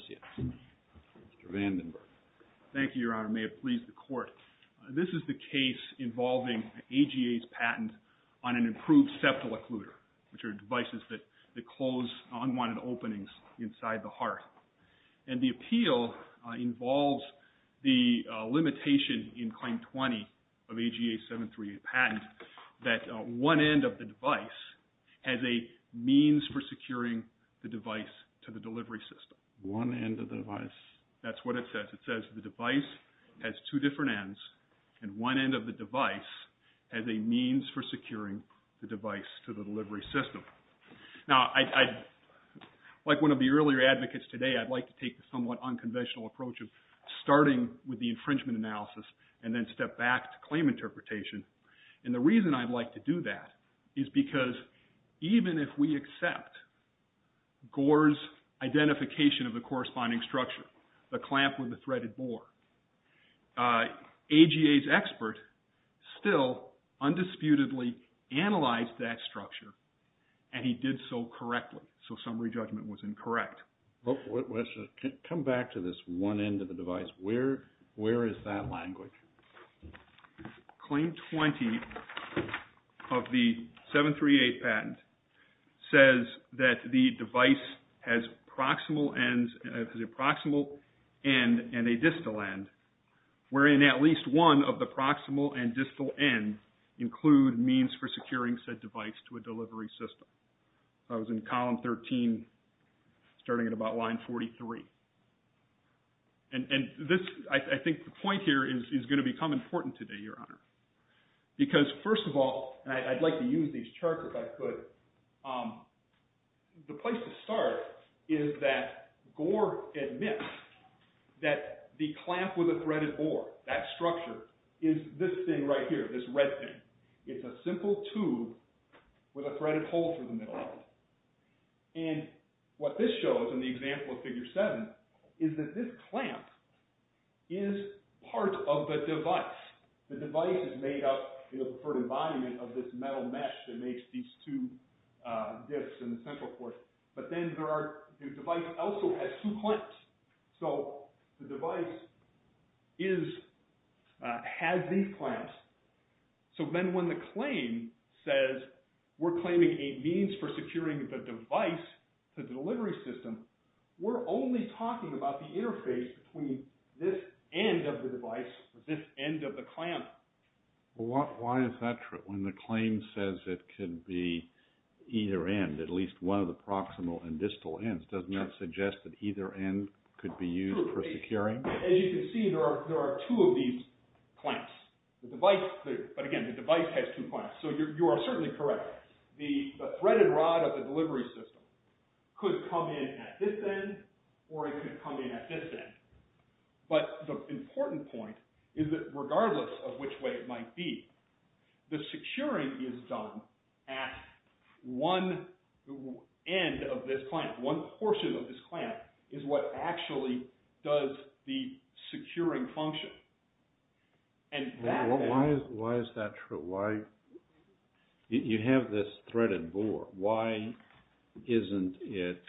Mr. Vandenberg. Thank you, Your Honor. May it please the Court, this is the case involving AGA's patent on an improved septal occluder, which are devices that close unwanted openings inside the heart. And the appeal involves the limitation in Claim 20 of AGA 738 patent that one end of the device has a means for securing the device to the delivery system. One end of the device? That's what it says. It says the device has two different ends and one end of the device has a means for securing the device to the delivery system. Now I, like one of the earlier advocates today, I'd like to take the somewhat unconventional approach of starting with the infringement analysis and then step back to claim interpretation. And the reason I'd like to do that is because even if we accept Gore's identification of the corresponding structure, the clamp or the threaded bore, AGA's expert still undisputedly analyzed that structure and he did so correctly. So summary judgment was incorrect. Come back to this one end of the device. Where is that language? Claim 20 of the 738 patent says that the device has proximal ends and proximal ends of the proximal end and a distal end, wherein at least one of the proximal and distal end include means for securing said device to a delivery system. That was in column 13, starting at about line 43. And this, I think the point here is going to become important today, Your Honor. Because first of all, and I'd like to use these charts if I could, the place to start is that Gore admits that the clamp with the threaded bore, that structure, is this thing right here, this red thing. It's a simple tube with a threaded hole through the middle of it. And what this shows in the example of Figure 7 is that this clamp is part of the device. The device is made up for the embodiment of this metal mesh that the device also has two clamps. So the device has these clamps. So then when the claim says we're claiming a means for securing the device to the delivery system, we're only talking about the interface between this end of the device and this end of the clamp. Why is that true? When the claim says it could be either end, at least one of the proximal and distal ends, doesn't that suggest that either end could be used for securing? As you can see, there are two of these clamps. The device, but again, the device has two clamps. So you are certainly correct. The threaded rod of the delivery system could come in at this end or it could come in at this end. But the important point is that regardless of which way it might be, the securing is done at one end of this device. One portion of this clamp is what actually does the securing function. Why is that true? You have this threaded bore. Why isn't it,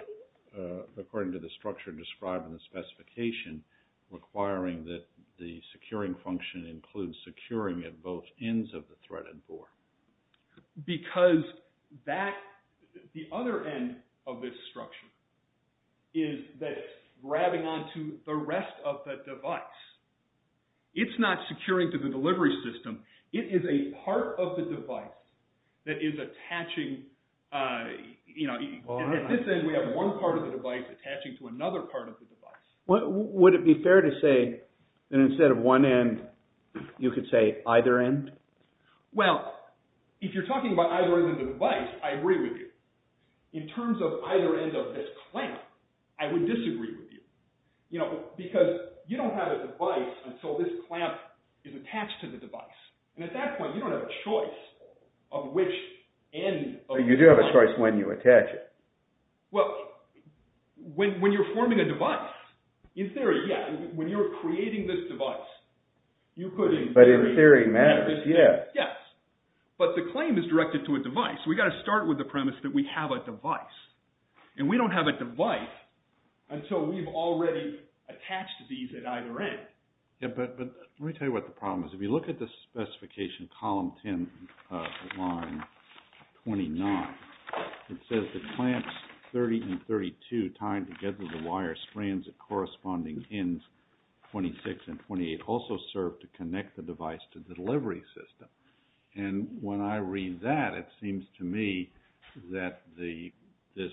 according to the structure described in the specification, requiring that the securing function includes securing at both ends of the threaded bore? Because that, the other end of this structure is that it's grabbing onto the rest of the device. It's not securing to the delivery system. It is a part of the device that is attaching, you know, and at this end we have one part of the device attaching to another part of the device. Would it be fair to say that instead of one end, you could say either end? Well, if you're talking about either end of the device, I agree with you. In terms of either end of this clamp, I would disagree with you. You know, because you don't have a device until this clamp is attached to the device. And at that point, you don't have a choice of which end of the clamp. You do have a choice when you attach it. Well, when you're forming a device, in theory, yeah. When you're creating this device, you could But in theory, it matters, yeah. Yes. But the claim is directed to a device. We've got to start with the premise that we have a device. And we don't have a device until we've already attached these at either end. Yeah, but let me tell you what the problem is. If you look at the specification, column 10, line 29, it says the clamps 30 and 32 tied together the wire strands at corresponding ends 26 and 28 also serve to connect the device to the delivery system. And when I read that, it seems to me that this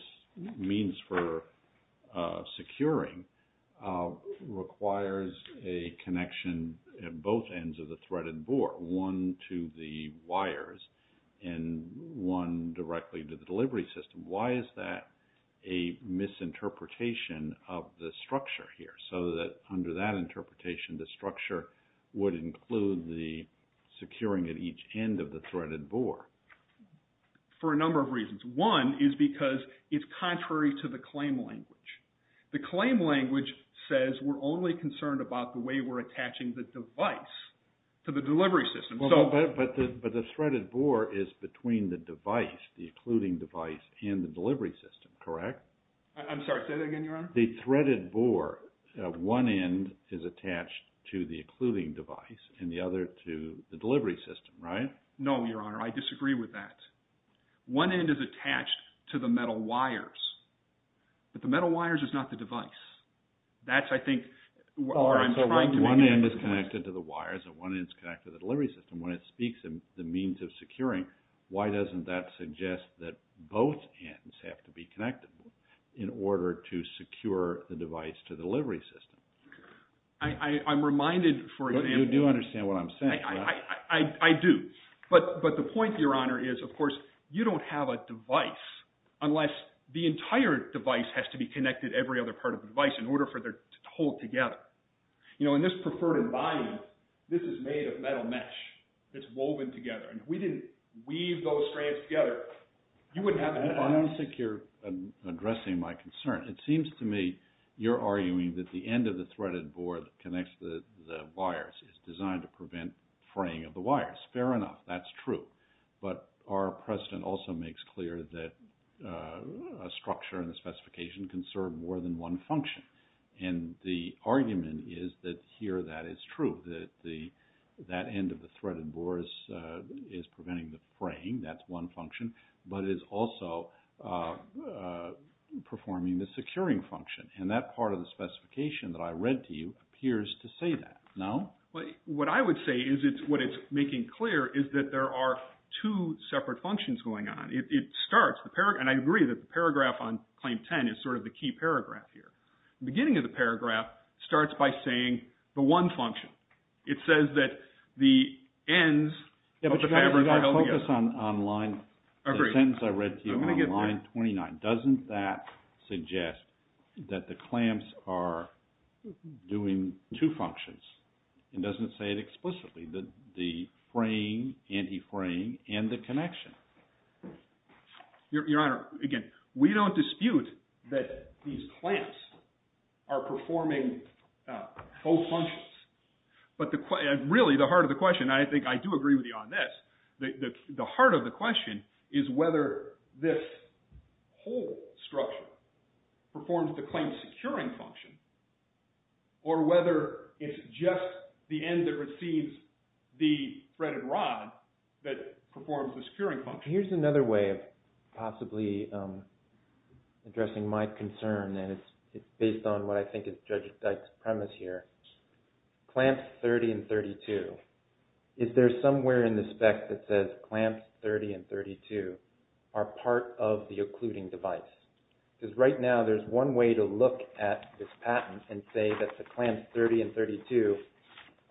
means for securing requires a connection at both ends of the wires and one directly to the delivery system. Why is that a misinterpretation of the structure here? So that under that interpretation, the structure would include the securing at each end of the threaded board? For a number of reasons. One is because it's contrary to the claim language. The claim language says we're only concerned about the way we're attaching the device to the delivery system. But the threaded board is between the device, the occluding device, and the delivery system, correct? I'm sorry, say that again, Your Honor? The threaded board, one end is attached to the occluding device and the other to the delivery system, right? No, Your Honor, I disagree with that. One end is attached to the metal wires. But the metal wires is not the device. That's, I think, where I'm trying to make a difference. One end is connected to the wires and one end is connected to the delivery system. When it speaks of the means of securing, why doesn't that suggest that both ends have to be connected in order to secure the device to the delivery system? I'm reminded for example... You do understand what I'm saying, right? I do. But the point, Your Honor, is of course you don't have a device unless the entire device has to be connected to every other part of the device in order for them to hold together. You know, in this preferred environment, this is made of metal mesh. It's woven together. And if we didn't weave those strands together, you wouldn't have a device. I don't think you're addressing my concern. It seems to me you're arguing that the end of the threaded board that connects the wires is designed to prevent fraying of the wires. Fair enough, that's true. But our precedent also makes clear that a structure and a specification can serve more than one function. And the argument is that here that is true, that the end of the threaded board is preventing the fraying. That's one function. But it is also performing the securing function. And that part of the specification that I read to you appears to say that. No? What I would say is what it's making clear is that there are two separate functions going on. And I agree that the paragraph on Claim 10 is sort of the key paragraph here. The beginning of the paragraph starts by saying the one function. It says that the ends of the fabric are held together. Yeah, but you've got to focus on line, the sentence I read to you on line 29. Doesn't that suggest that the clamps are doing two functions? It doesn't say it explicitly, the fraying, anti-fraying, and the connection. Your Honor, again, we don't dispute that these clamps are performing both functions. But really the heart of the question, and I think I do agree with you on this, the heart of the question is whether this whole structure performs the claim securing function or whether it's just the end that receives the threaded rod that performs the securing function. Here's another way of possibly addressing my concern. And it's based on what I think is Judge Dyke's premise here. Clamps 30 and 32, is there somewhere in the spec that says clamps 30 and 32 are part of the occluding device? Because right now there's one way to look at this patent and say that the clamps 30 and 32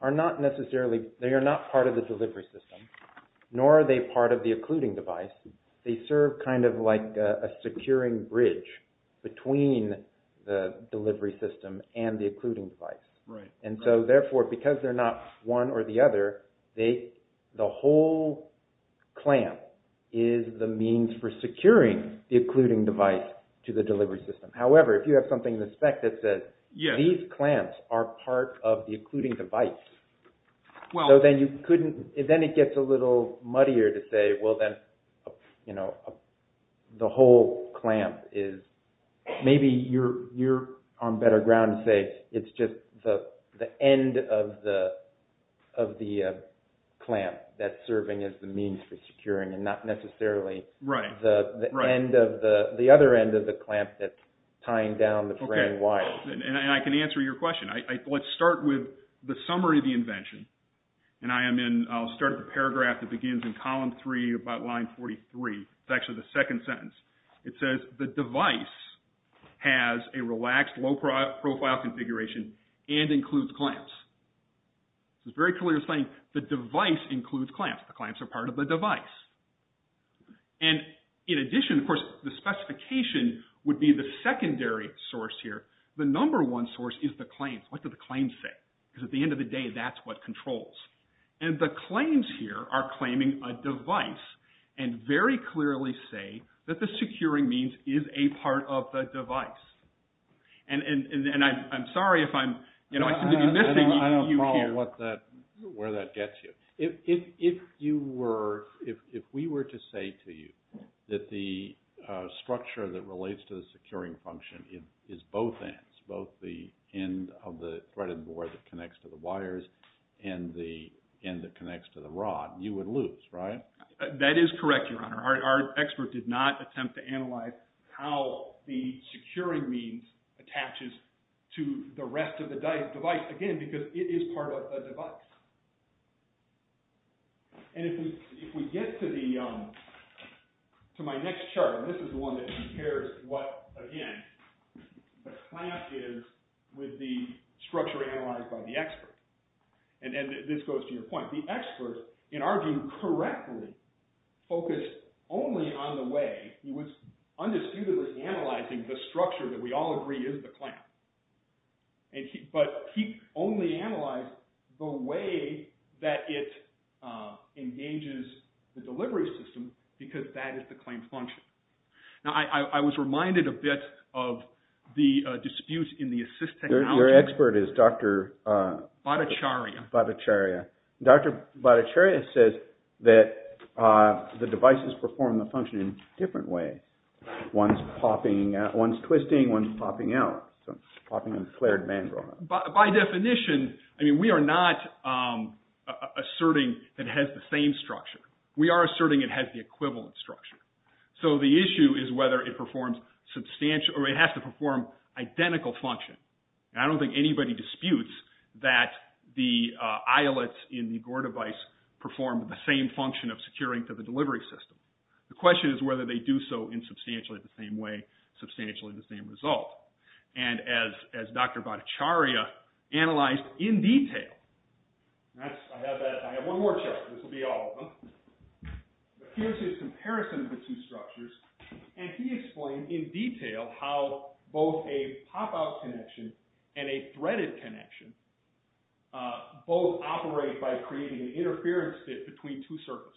are not necessarily, they are not part of the delivery system, nor are they part of the occluding device. They serve kind of like a securing bridge between the delivery system and the occluding device. And so therefore, because they're not one or the other, the whole clamp is the means for securing the occluding device to the delivery system. However, if you have something in the spec that says these clamps are part of the occluding device, then it gets a little muddier to say, well, then the whole clamp is, maybe you're on better ground to say it's just the end of the clamp that's serving as the means for securing and not necessarily the other end of the clamp that's tying down the threading wire. And I can answer your question. Let's start with the summary of the invention. And I'll start with a paragraph that begins in column three about line 43. It's actually the second sentence. It says the device has a relaxed low-profile configuration and includes clamps. It's very clear saying the device includes clamps. The clamps are part of the device. And in addition, of course, the specification would be the secondary source here. The number one source is the claims. What do the claims say? Because at the end of the day, that's what controls. And the claims here are claiming a device and very clearly say that the securing means is a part of the device. And I'm sorry if I'm, you know, I seem to be missing you here. I don't follow where that gets you. If you were, if we were to say to you that the structure that relates to the securing function is both ends, both the end of the threaded board that connects to the wires and the end that connects to the rod, you would lose, right? That is correct, Your Honor. Our expert did not attempt to analyze how the securing means attaches to the rest of the device, again, because it is part of the device. And if we get to the, to my next chart, this is the one that compares what, again, the clamp is with the structure analyzed by the expert. And this goes to your point. The expert, in our view, correctly focused only on the way, he was undisputedly analyzing the structure that we all agree is the clamp. But he only analyzed the way that it engages the delivery system because that is the clamp function. Now, I was reminded a bit of the dispute in the assist technology. Your expert is Dr. Bhattacharya. Bhattacharya. Dr. Bhattacharya says that the devices perform the function in different ways. One's popping, one's twisting, one's popping out. So, popping and flared mandrel. By definition, I mean, we are not asserting it has the same structure. We are asserting it has the equivalent structure. So, the issue is whether it performs substantial, or it has to perform identical function. And I don't think anybody disputes that the eyelets in the Gore device perform the same function of securing to the delivery system. The question is whether they do so in substantially the same way, substantially the same result. And as Dr. Bhattacharya analyzed in detail. I have one more check. This will be all of them. Here's his comparison of the two structures. And he explained in detail how both a pop-out connection and a threaded connection both operate by creating an interference fit between two surfaces.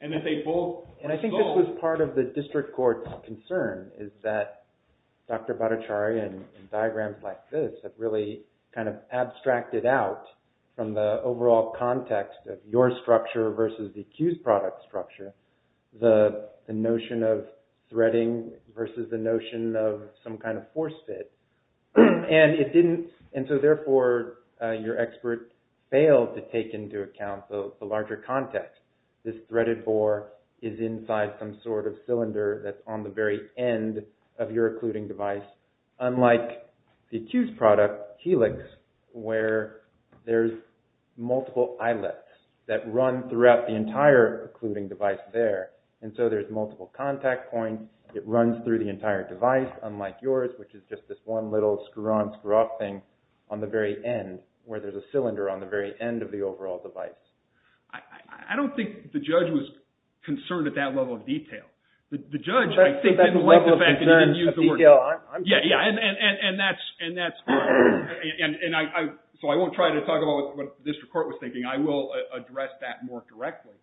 And I think this was part of the district court's concern. Is that Dr. Bhattacharya and diagrams like this have really kind of abstracted out from the overall context of your structure versus the accused product structure. The notion of threading versus the notion of some kind of force fit. And it didn't, and so therefore your expert failed to take into account the larger context. This threaded bore is inside some sort of cylinder that's on the very end of your occluding device. Unlike the accused product helix where there's multiple eyelets that run throughout the entire occluding device there. And so there's multiple contact points. And it runs through the entire device unlike yours which is just this one little screw on, screw off thing on the very end where there's a cylinder on the very end of the overall device. I don't think the judge was concerned at that level of detail. The judge, I think, didn't like the fact that he didn't use the word detail. I'm sorry. Yeah, yeah. And that's, so I won't try to talk about what the district court was thinking. I will address that more directly.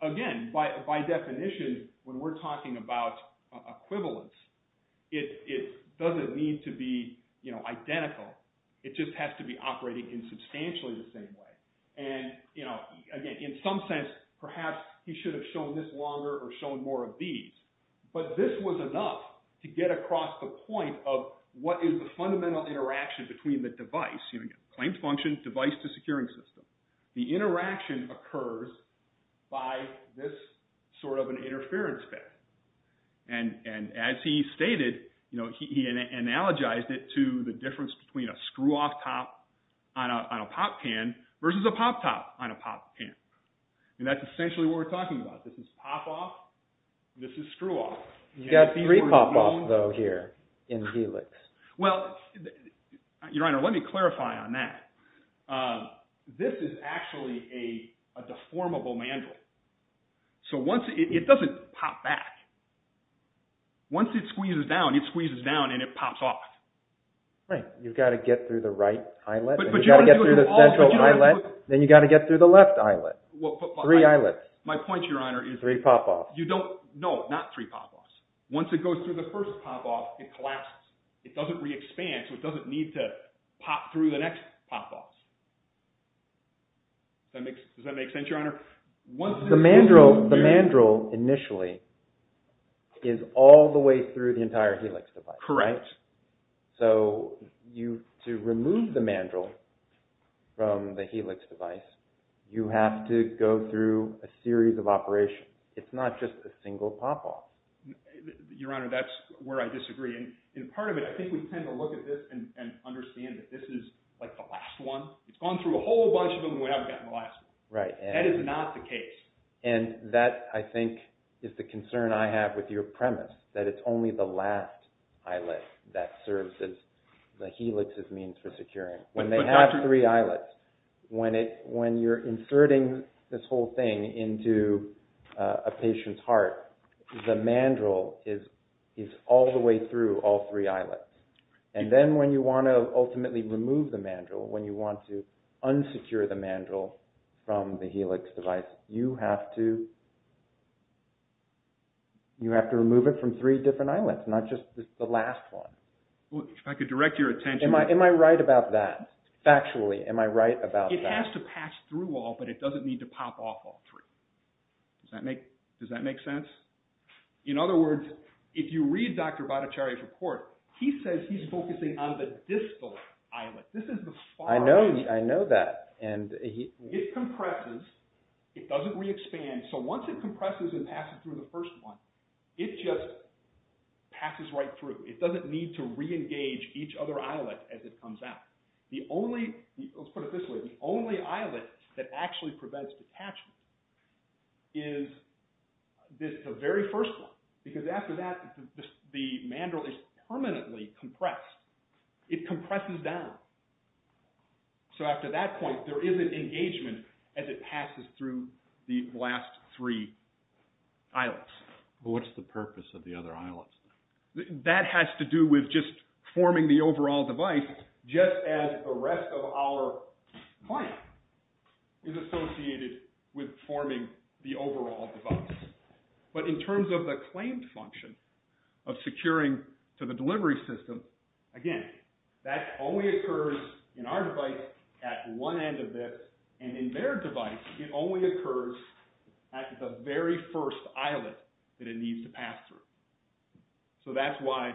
Again, by definition, when we're talking about equivalence, it doesn't need to be identical. It just has to be operating in substantially the same way. And, you know, again, in some sense, perhaps he should have shown this longer or shown more of these. But this was enough to get across the point of what is the fundamental interaction between the device. Claimed function, device to securing system. The interaction occurs by this sort of an interference bit. And as he stated, you know, he analogized it to the difference between a screw off top on a pop can versus a pop top on a pop can. And that's essentially what we're talking about. This is pop off. This is screw off. You've got three pop off though here in Helix. Well, Your Honor, let me clarify on that. This is actually a deformable mandrel. So once, it doesn't pop back. Once it squeezes down, it squeezes down and it pops off. Right. You've got to get through the right eyelet. You've got to get through the central eyelet. Then you've got to get through the left eyelet. Three eyelets. My point, Your Honor, is. Three pop offs. You don't, no, not three pop offs. Once it goes through the first pop off, it collapses. It doesn't re-expand, so it doesn't need to pop through the next pop off. Does that make sense, Your Honor? The mandrel initially is all the way through the entire Helix device. Correct. So to remove the mandrel from the Helix device, you have to go through a series of operations. It's not just a single pop off. Your Honor, that's where I disagree. In part of it, I think we tend to look at this and understand that this is like the last one. It's gone through a whole bunch of them and we haven't gotten the last one. Right. That is not the case. And that, I think, is the concern I have with your premise. That it's only the last eyelet that serves as the Helix's means for securing. When they have three eyelets, when you're inserting this whole thing into a patient's heart, the mandrel is all the way through all three eyelets. And then when you want to ultimately remove the mandrel, when you want to unsecure the mandrel from the Helix device, you have to remove it from three different eyelets, not just the last one. If I could direct your attention... Am I right about that? Factually, am I right about that? It has to pass through all, but it doesn't need to pop off all three. Does that make sense? In other words, if you read Dr. Bhattacharya's report, he says he's focusing on the distal eyelet. I know that. It compresses. It doesn't re-expand. So once it compresses and passes through the first one, it just passes right through. It doesn't need to re-engage each other eyelet as it comes out. Let's put it this way. The only eyelet that actually prevents detachment is the very first one. Because after that, the mandrel is permanently compressed. It compresses down. So after that point, there is an engagement as it passes through the last three eyelets. But what's the purpose of the other eyelets? That has to do with just forming the overall device, just as the rest of our client is associated with forming the overall device. But in terms of the claimed function of securing to the delivery system, again, that only occurs in our device at one end of this. And in their device, it only occurs at the very first eyelet that it needs to pass through. So that's why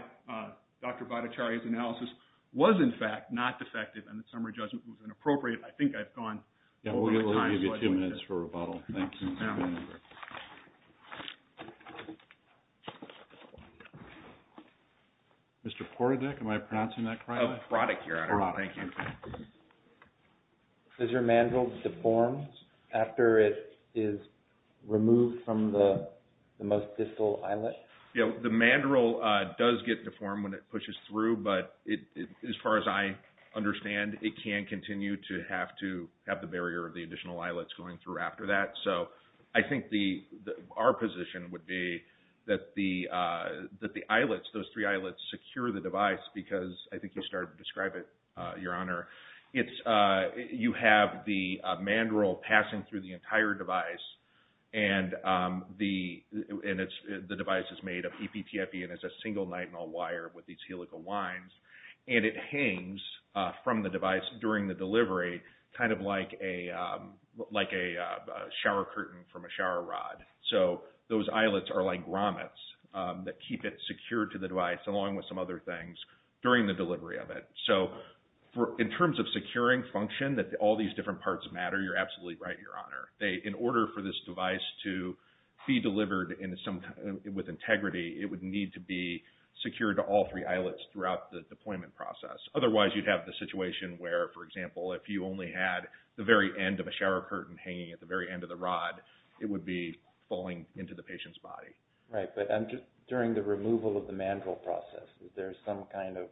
Dr. Bhattacharya's analysis was, in fact, not defective, and the summary judgment was inappropriate. I think I've gone over the time. Yeah, we'll give you two minutes for rebuttal. Thank you. Mr. Porodek, am I pronouncing that correctly? Oh, Pradek here. Pradek, thank you. Does your mandrel deform after it is removed from the most distal eyelet? Yeah, the mandrel does get deformed when it pushes through, but as far as I understand, it can continue to have the barrier of the additional eyelets going through after that. So I think our position would be that the eyelets, those three eyelets, secure the device because I think you started to describe it, Your Honor. You have the mandrel passing through the entire device, and the device is made of EPTFE, and it's a single nitinol wire with these helical lines, and it hangs from the device during the delivery, kind of like a shower curtain from a shower rod. So those eyelets are like grommets that keep it secured to the device, along with some other things, during the delivery of it. So in terms of securing function, that all these different parts matter, you're absolutely right, Your Honor. In order for this device to be delivered with integrity, it would need to be secured to all three eyelets throughout the deployment process. Otherwise, you'd have the situation where, for example, if you only had the very end of a shower curtain hanging at the very end of the rod, it would be falling into the patient's body. Right, but during the removal of the mandrel process, is there some kind of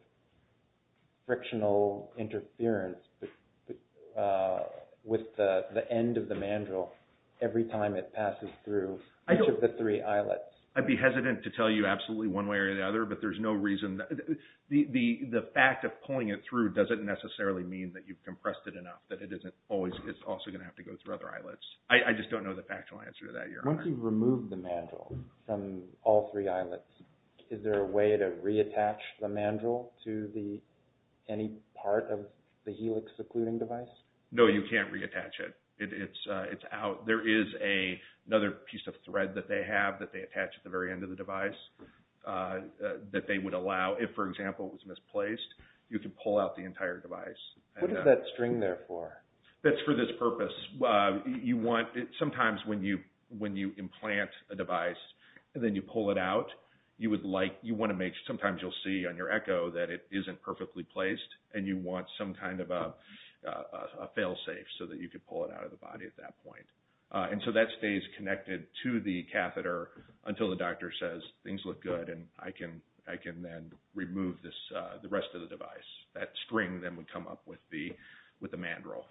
frictional interference with the end of the mandrel every time it passes through each of the three eyelets? I'd be hesitant to tell you absolutely one way or the other, but there's no reason. The fact of pulling it through doesn't necessarily mean that you've compressed it enough, that it's also going to have to go through other eyelets. I just don't know the factual answer to that, Your Honor. Once you've removed the mandrel from all three eyelets, is there a way to reattach the mandrel to any part of the helix secluding device? No, you can't reattach it. It's out. There is another piece of thread that they have that they attach at the very end of the device that they would allow. If, for example, it was misplaced, you could pull out the entire device. What is that string there for? That's for this purpose. Sometimes when you implant a device and then you pull it out, sometimes you'll see on your echo that it isn't perfectly placed, and you want some kind of a fail-safe so that you can pull it out of the body at that point. So that stays connected to the catheter until the doctor says, things look good and I can then remove the rest of the device. That string then would come up with the mandrel.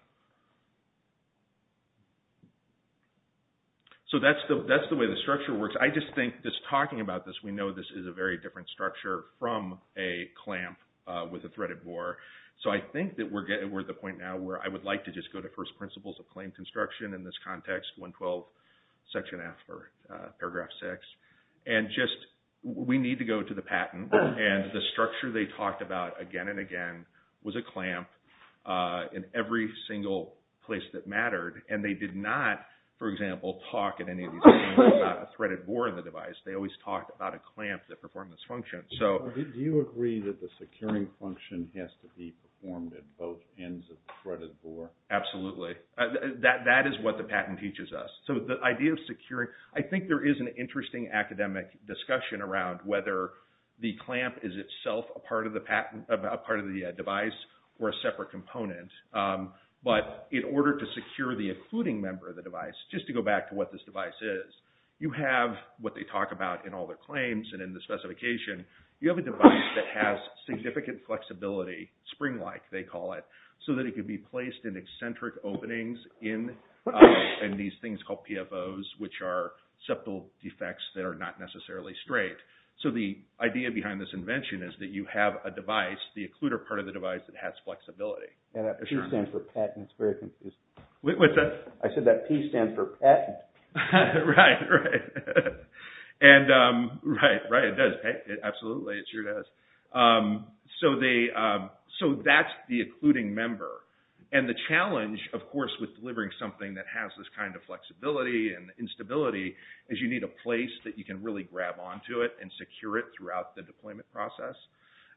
So that's the way the structure works. I just think just talking about this, we know this is a very different structure from a clamp with a threaded bore. So I think that we're at the point now where I would like to just go to first principles of claim construction in this context, 112, section F, or paragraph 6, and just we need to go to the patent. And the structure they talked about again and again was a clamp in every single place that mattered. And they did not, for example, talk at any of these meetings about a threaded bore in the device. They always talked about a clamp that performed this function. Do you agree that the securing function has to be performed at both ends of the threaded bore? Absolutely. That is what the patent teaches us. So the idea of securing, I think there is an interesting academic discussion around whether the clamp is itself a part of the device or a separate component. But in order to secure the occluding member of the device, just to go back to what this device is, you have what they talk about in all their claims and in the specification, you have a device that has significant flexibility, spring-like they call it, so that it can be placed in eccentric openings in these things called PFOs, which are septal defects that are not necessarily straight. So the idea behind this invention is that you have a device, the occluder part of the device that has flexibility. And that P stands for patent. What's that? I said that P stands for patent. Right, right. And right, right, it does. Absolutely, it sure does. So that's the occluding member. And the challenge, of course, with delivering something that has this kind of flexibility and instability is you need a place that you can really grab onto it and secure it throughout the deployment process.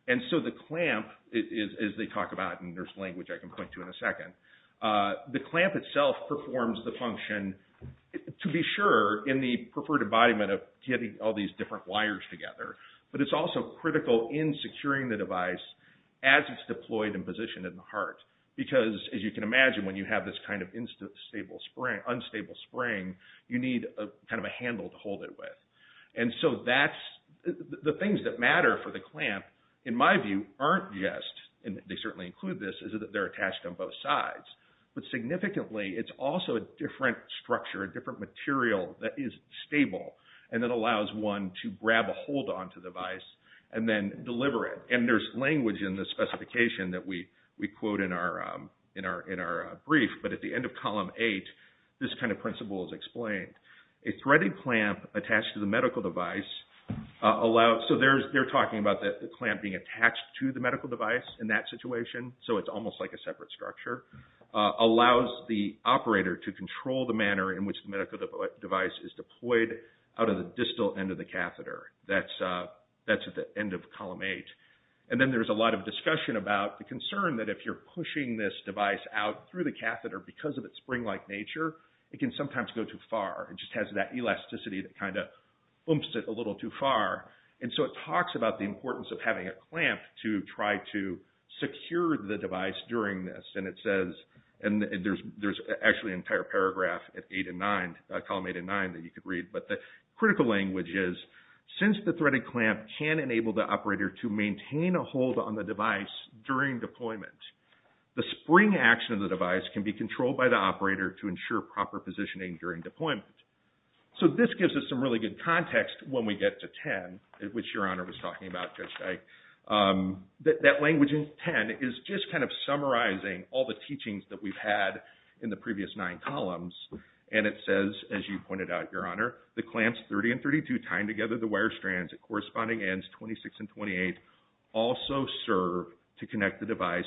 And so the clamp, as they talk about, and there's language I can point to in a second, the clamp itself performs the function, to be sure, in the preferred embodiment of getting all these different wires together. But it's also critical in securing the device as it's deployed and positioned in the heart. Because, as you can imagine, when you have this kind of unstable spring, you need kind of a handle to hold it with. And so the things that matter for the clamp, in my view, aren't just, and they certainly include this, is that they're attached on both sides. But significantly, it's also a different structure, a different material that is stable, and that allows one to grab a hold onto the device and then deliver it. And there's language in the specification that we quote in our brief, but at the end of column eight, this kind of principle is explained. A threaded clamp attached to the medical device allows, so they're talking about the clamp being attached to the medical device in that situation, so it's almost like a separate structure, allows the operator to control the manner in which the medical device is deployed out of the distal end of the catheter. That's at the end of column eight. And then there's a lot of discussion about the concern that if you're pushing this device out through the catheter because of its spring-like nature, it can sometimes go too far. It just has that elasticity that kind of bumps it a little too far. And so it talks about the importance of having a clamp to try to secure the device during this. And it says, and there's actually an entire paragraph at column eight and nine that you could read, but the critical language is, since the threaded clamp can enable the operator to maintain a hold on the device during deployment, the spring action of the device can be controlled by the operator to ensure proper positioning during deployment. So this gives us some really good context when we get to 10, which Your Honor was talking about, Judge Dyke. That language in 10 is just kind of summarizing all the teachings that we've had in the previous nine columns. And it says, as you pointed out, Your Honor, the clamps 30 and 32 tying together the wire strands at corresponding ends 26 and 28 also serve to connect the device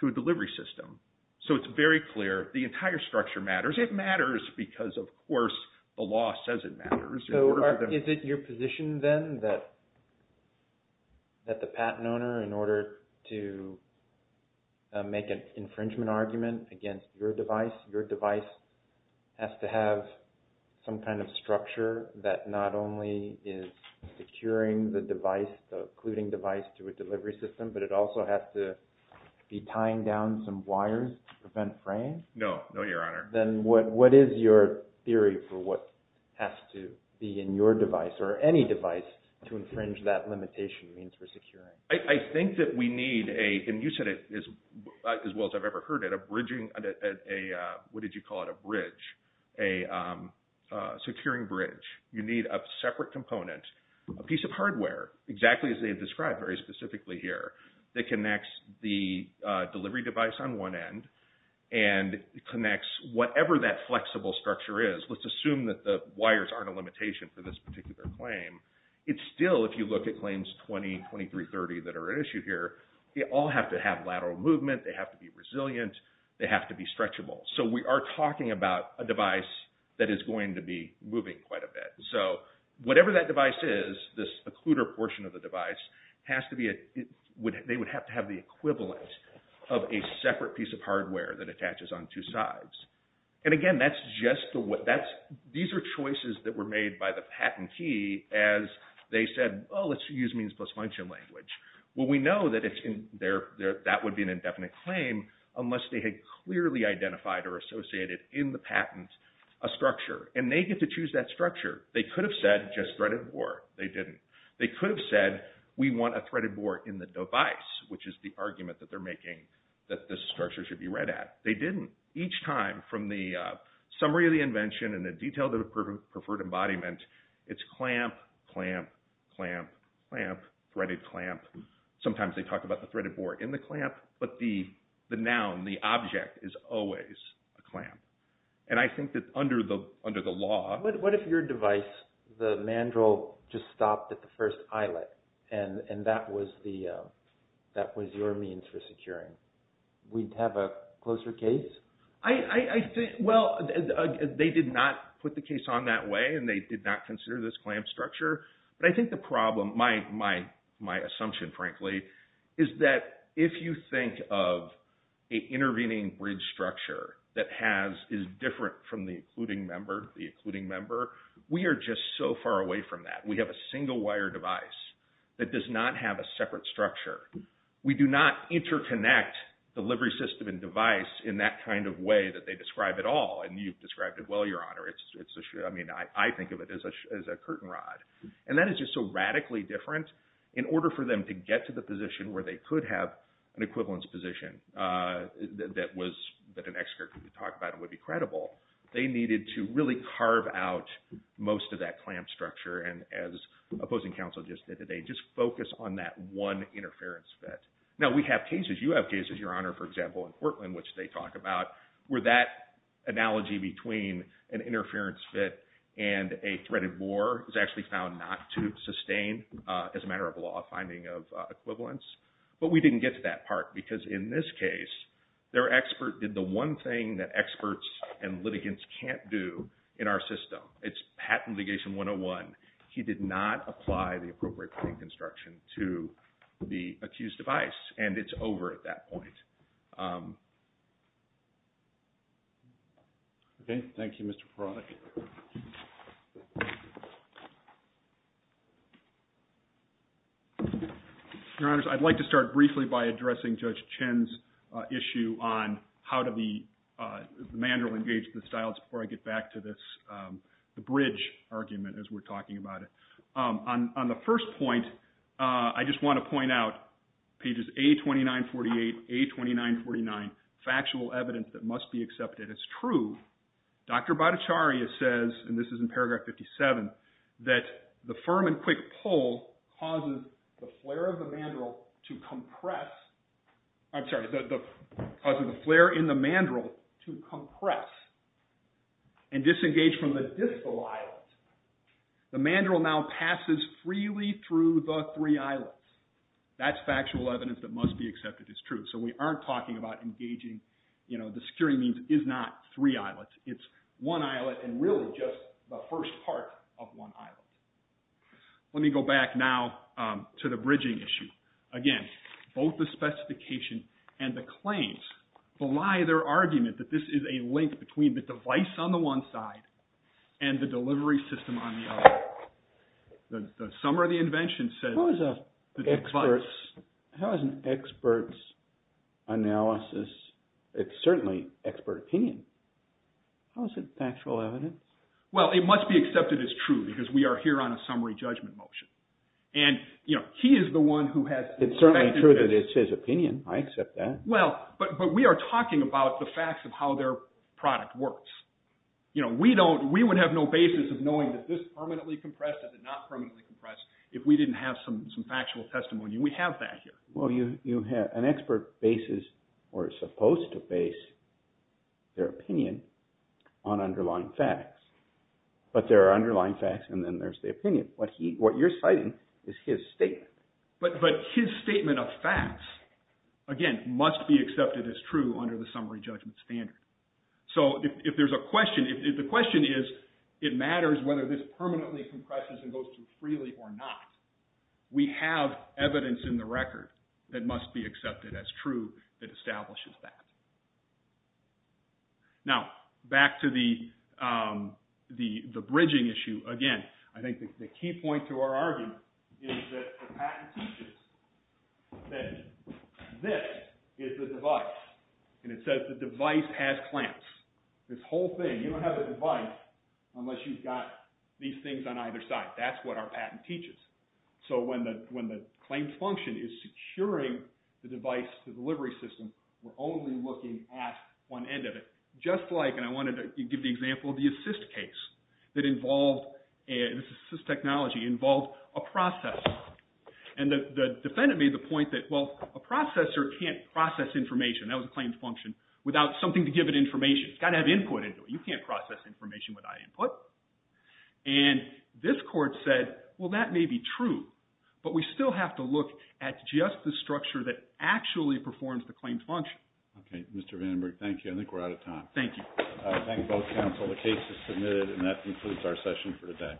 to a delivery system. So it's very clear the entire structure matters. It matters because, of course, the law says it matters. So is it your position then that the patent owner, in order to make an infringement argument against your device, your device has to have some kind of structure that not only is securing the device, the occluding device to a delivery system, but it also has to be tying down some wires to prevent fraying? No, no, Your Honor. Then what is your theory for what has to be in your device or any device to infringe that limitation means for securing? I think that we need, and you said it as well as I've ever heard it, a bridging, what did you call it, a bridge, a securing bridge. You need a separate component, a piece of hardware, exactly as they've described very specifically here, that connects the delivery device on one end and connects whatever that flexible structure is. Let's assume that the wires aren't a limitation for this particular claim. It's still, if you look at claims 20, 23, 30 that are at issue here, they all have to have lateral movement, they have to be resilient, they have to be stretchable. So we are talking about a device that is going to be moving quite a bit. So whatever that device is, this occluder portion of the device, they would have to have the equivalent of a separate piece of hardware that attaches on two sides. And again, these are choices that were made by the patentee as they said, oh, let's use means plus function language. Well, we know that that would be an indefinite claim unless they had clearly identified or associated in the patent a structure. And they get to choose that structure. They could have said just threaded bore, they didn't. They could have said we want a threaded bore in the device, which is the argument that they're making that this structure should be read at. They didn't. Each time from the summary of the invention and the detail of the preferred embodiment, it's clamp, clamp, clamp, clamp, threaded clamp. Sometimes they talk about the threaded bore in the clamp, but the noun, the object is always a clamp. And I think that under the law... What if your device, the mandrel, just stopped at the first eyelet and that was your means for securing? We'd have a closer case? Well, they did not put the case on that way and they did not consider this clamp structure. But I think the problem, my assumption frankly, is that if you think of an intervening bridge structure that is different from the occluding member, we are just so far away from that. We have a single wire device that does not have a separate structure. We do not interconnect delivery system and device in that kind of way that they describe it all. And you've described it well, Your Honor. I mean, I think of it as a curtain rod. And that is just so radically different. In order for them to get to the position where they could have an equivalence position that an expert could talk about and would be credible, they needed to really carve out most of that clamp structure and as opposing counsel just did today, just focus on that one interference fit. Now, we have cases, you have cases, Your Honor, for example, in Portland, which they talk about, where that analogy between an interference fit and a threaded bore is actually found not to sustain as a matter of law, finding of equivalence. But we didn't get to that part because in this case, their expert did the one thing that experts and litigants can't do in our system. It's patent litigation 101. He did not apply the appropriate frame construction to the accused device. And it's over at that point. OK, thank you, Mr. Parodic. Your Honors, I'd like to start briefly by addressing Judge Chin's issue on how did the mandrel engage the styles before I get back to this bridge argument as we're talking about it. On the first point, I just want to point out pages A2948, A2949, factual evidence that must be accepted. It's true. Dr. Bhattacharya says, and this is in paragraph 57, that the firm and quick pull causes the flare of the mandrel to compress. I'm sorry, causes the flare in the mandrel to compress and disengage from the distal islet. The mandrel now passes freely through the three islets. That's factual evidence that must be accepted. It's true. So we aren't talking about engaging, the securing means is not three islets. It's one islet and really just the first part of one islet. Let me go back now to the bridging issue. Again, both the specification and the claims belie their argument that this is a link between the device on the one side and the delivery system on the other. The summary of the invention says the device. How is an expert's analysis, it's certainly expert opinion. How is it factual evidence? Well, it must be accepted as true because we are here on a summary judgment motion. And he is the one who has. It's certainly true that it's his opinion. I accept that. Well, but we are talking about the facts of how their product works. We don't, we would have no basis of knowing that this permanently compresses and not permanently compress if we didn't have some factual testimony. We have that here. Well, you have an expert basis or supposed to base their opinion on underlying facts. But there are underlying facts and then there's the opinion. What you're citing is his statement. But his statement of facts, again, must be accepted as true under the summary judgment standard. So if there's a question, the question is it matters whether this permanently compresses and goes through freely or not. We have evidence in the record that must be accepted as true that establishes that. Now, back to the bridging issue. Again, I think the key point to our argument is that the patent teaches that this is the device. And it says the device has clamps. This whole thing, you don't have a device unless you've got these things on either side. That's what our patent teaches. So when the claims function is securing the device, the delivery system, we're only looking at one end of it. Just like, and I wanted to give the example of the assist case that involved assist technology, involved a processor. And the defendant made the point that, well, a processor can't process information, that was a claims function, without something to give it information. It's got to have input into it. You can't process information without input. And this court said, well, that may be true. But we still have to look at just the structure that actually performs the claims function. OK. Mr. Vandenberg, thank you. I think we're out of time. Thank you. Thank both counsel. The case is submitted. And that concludes our session for today.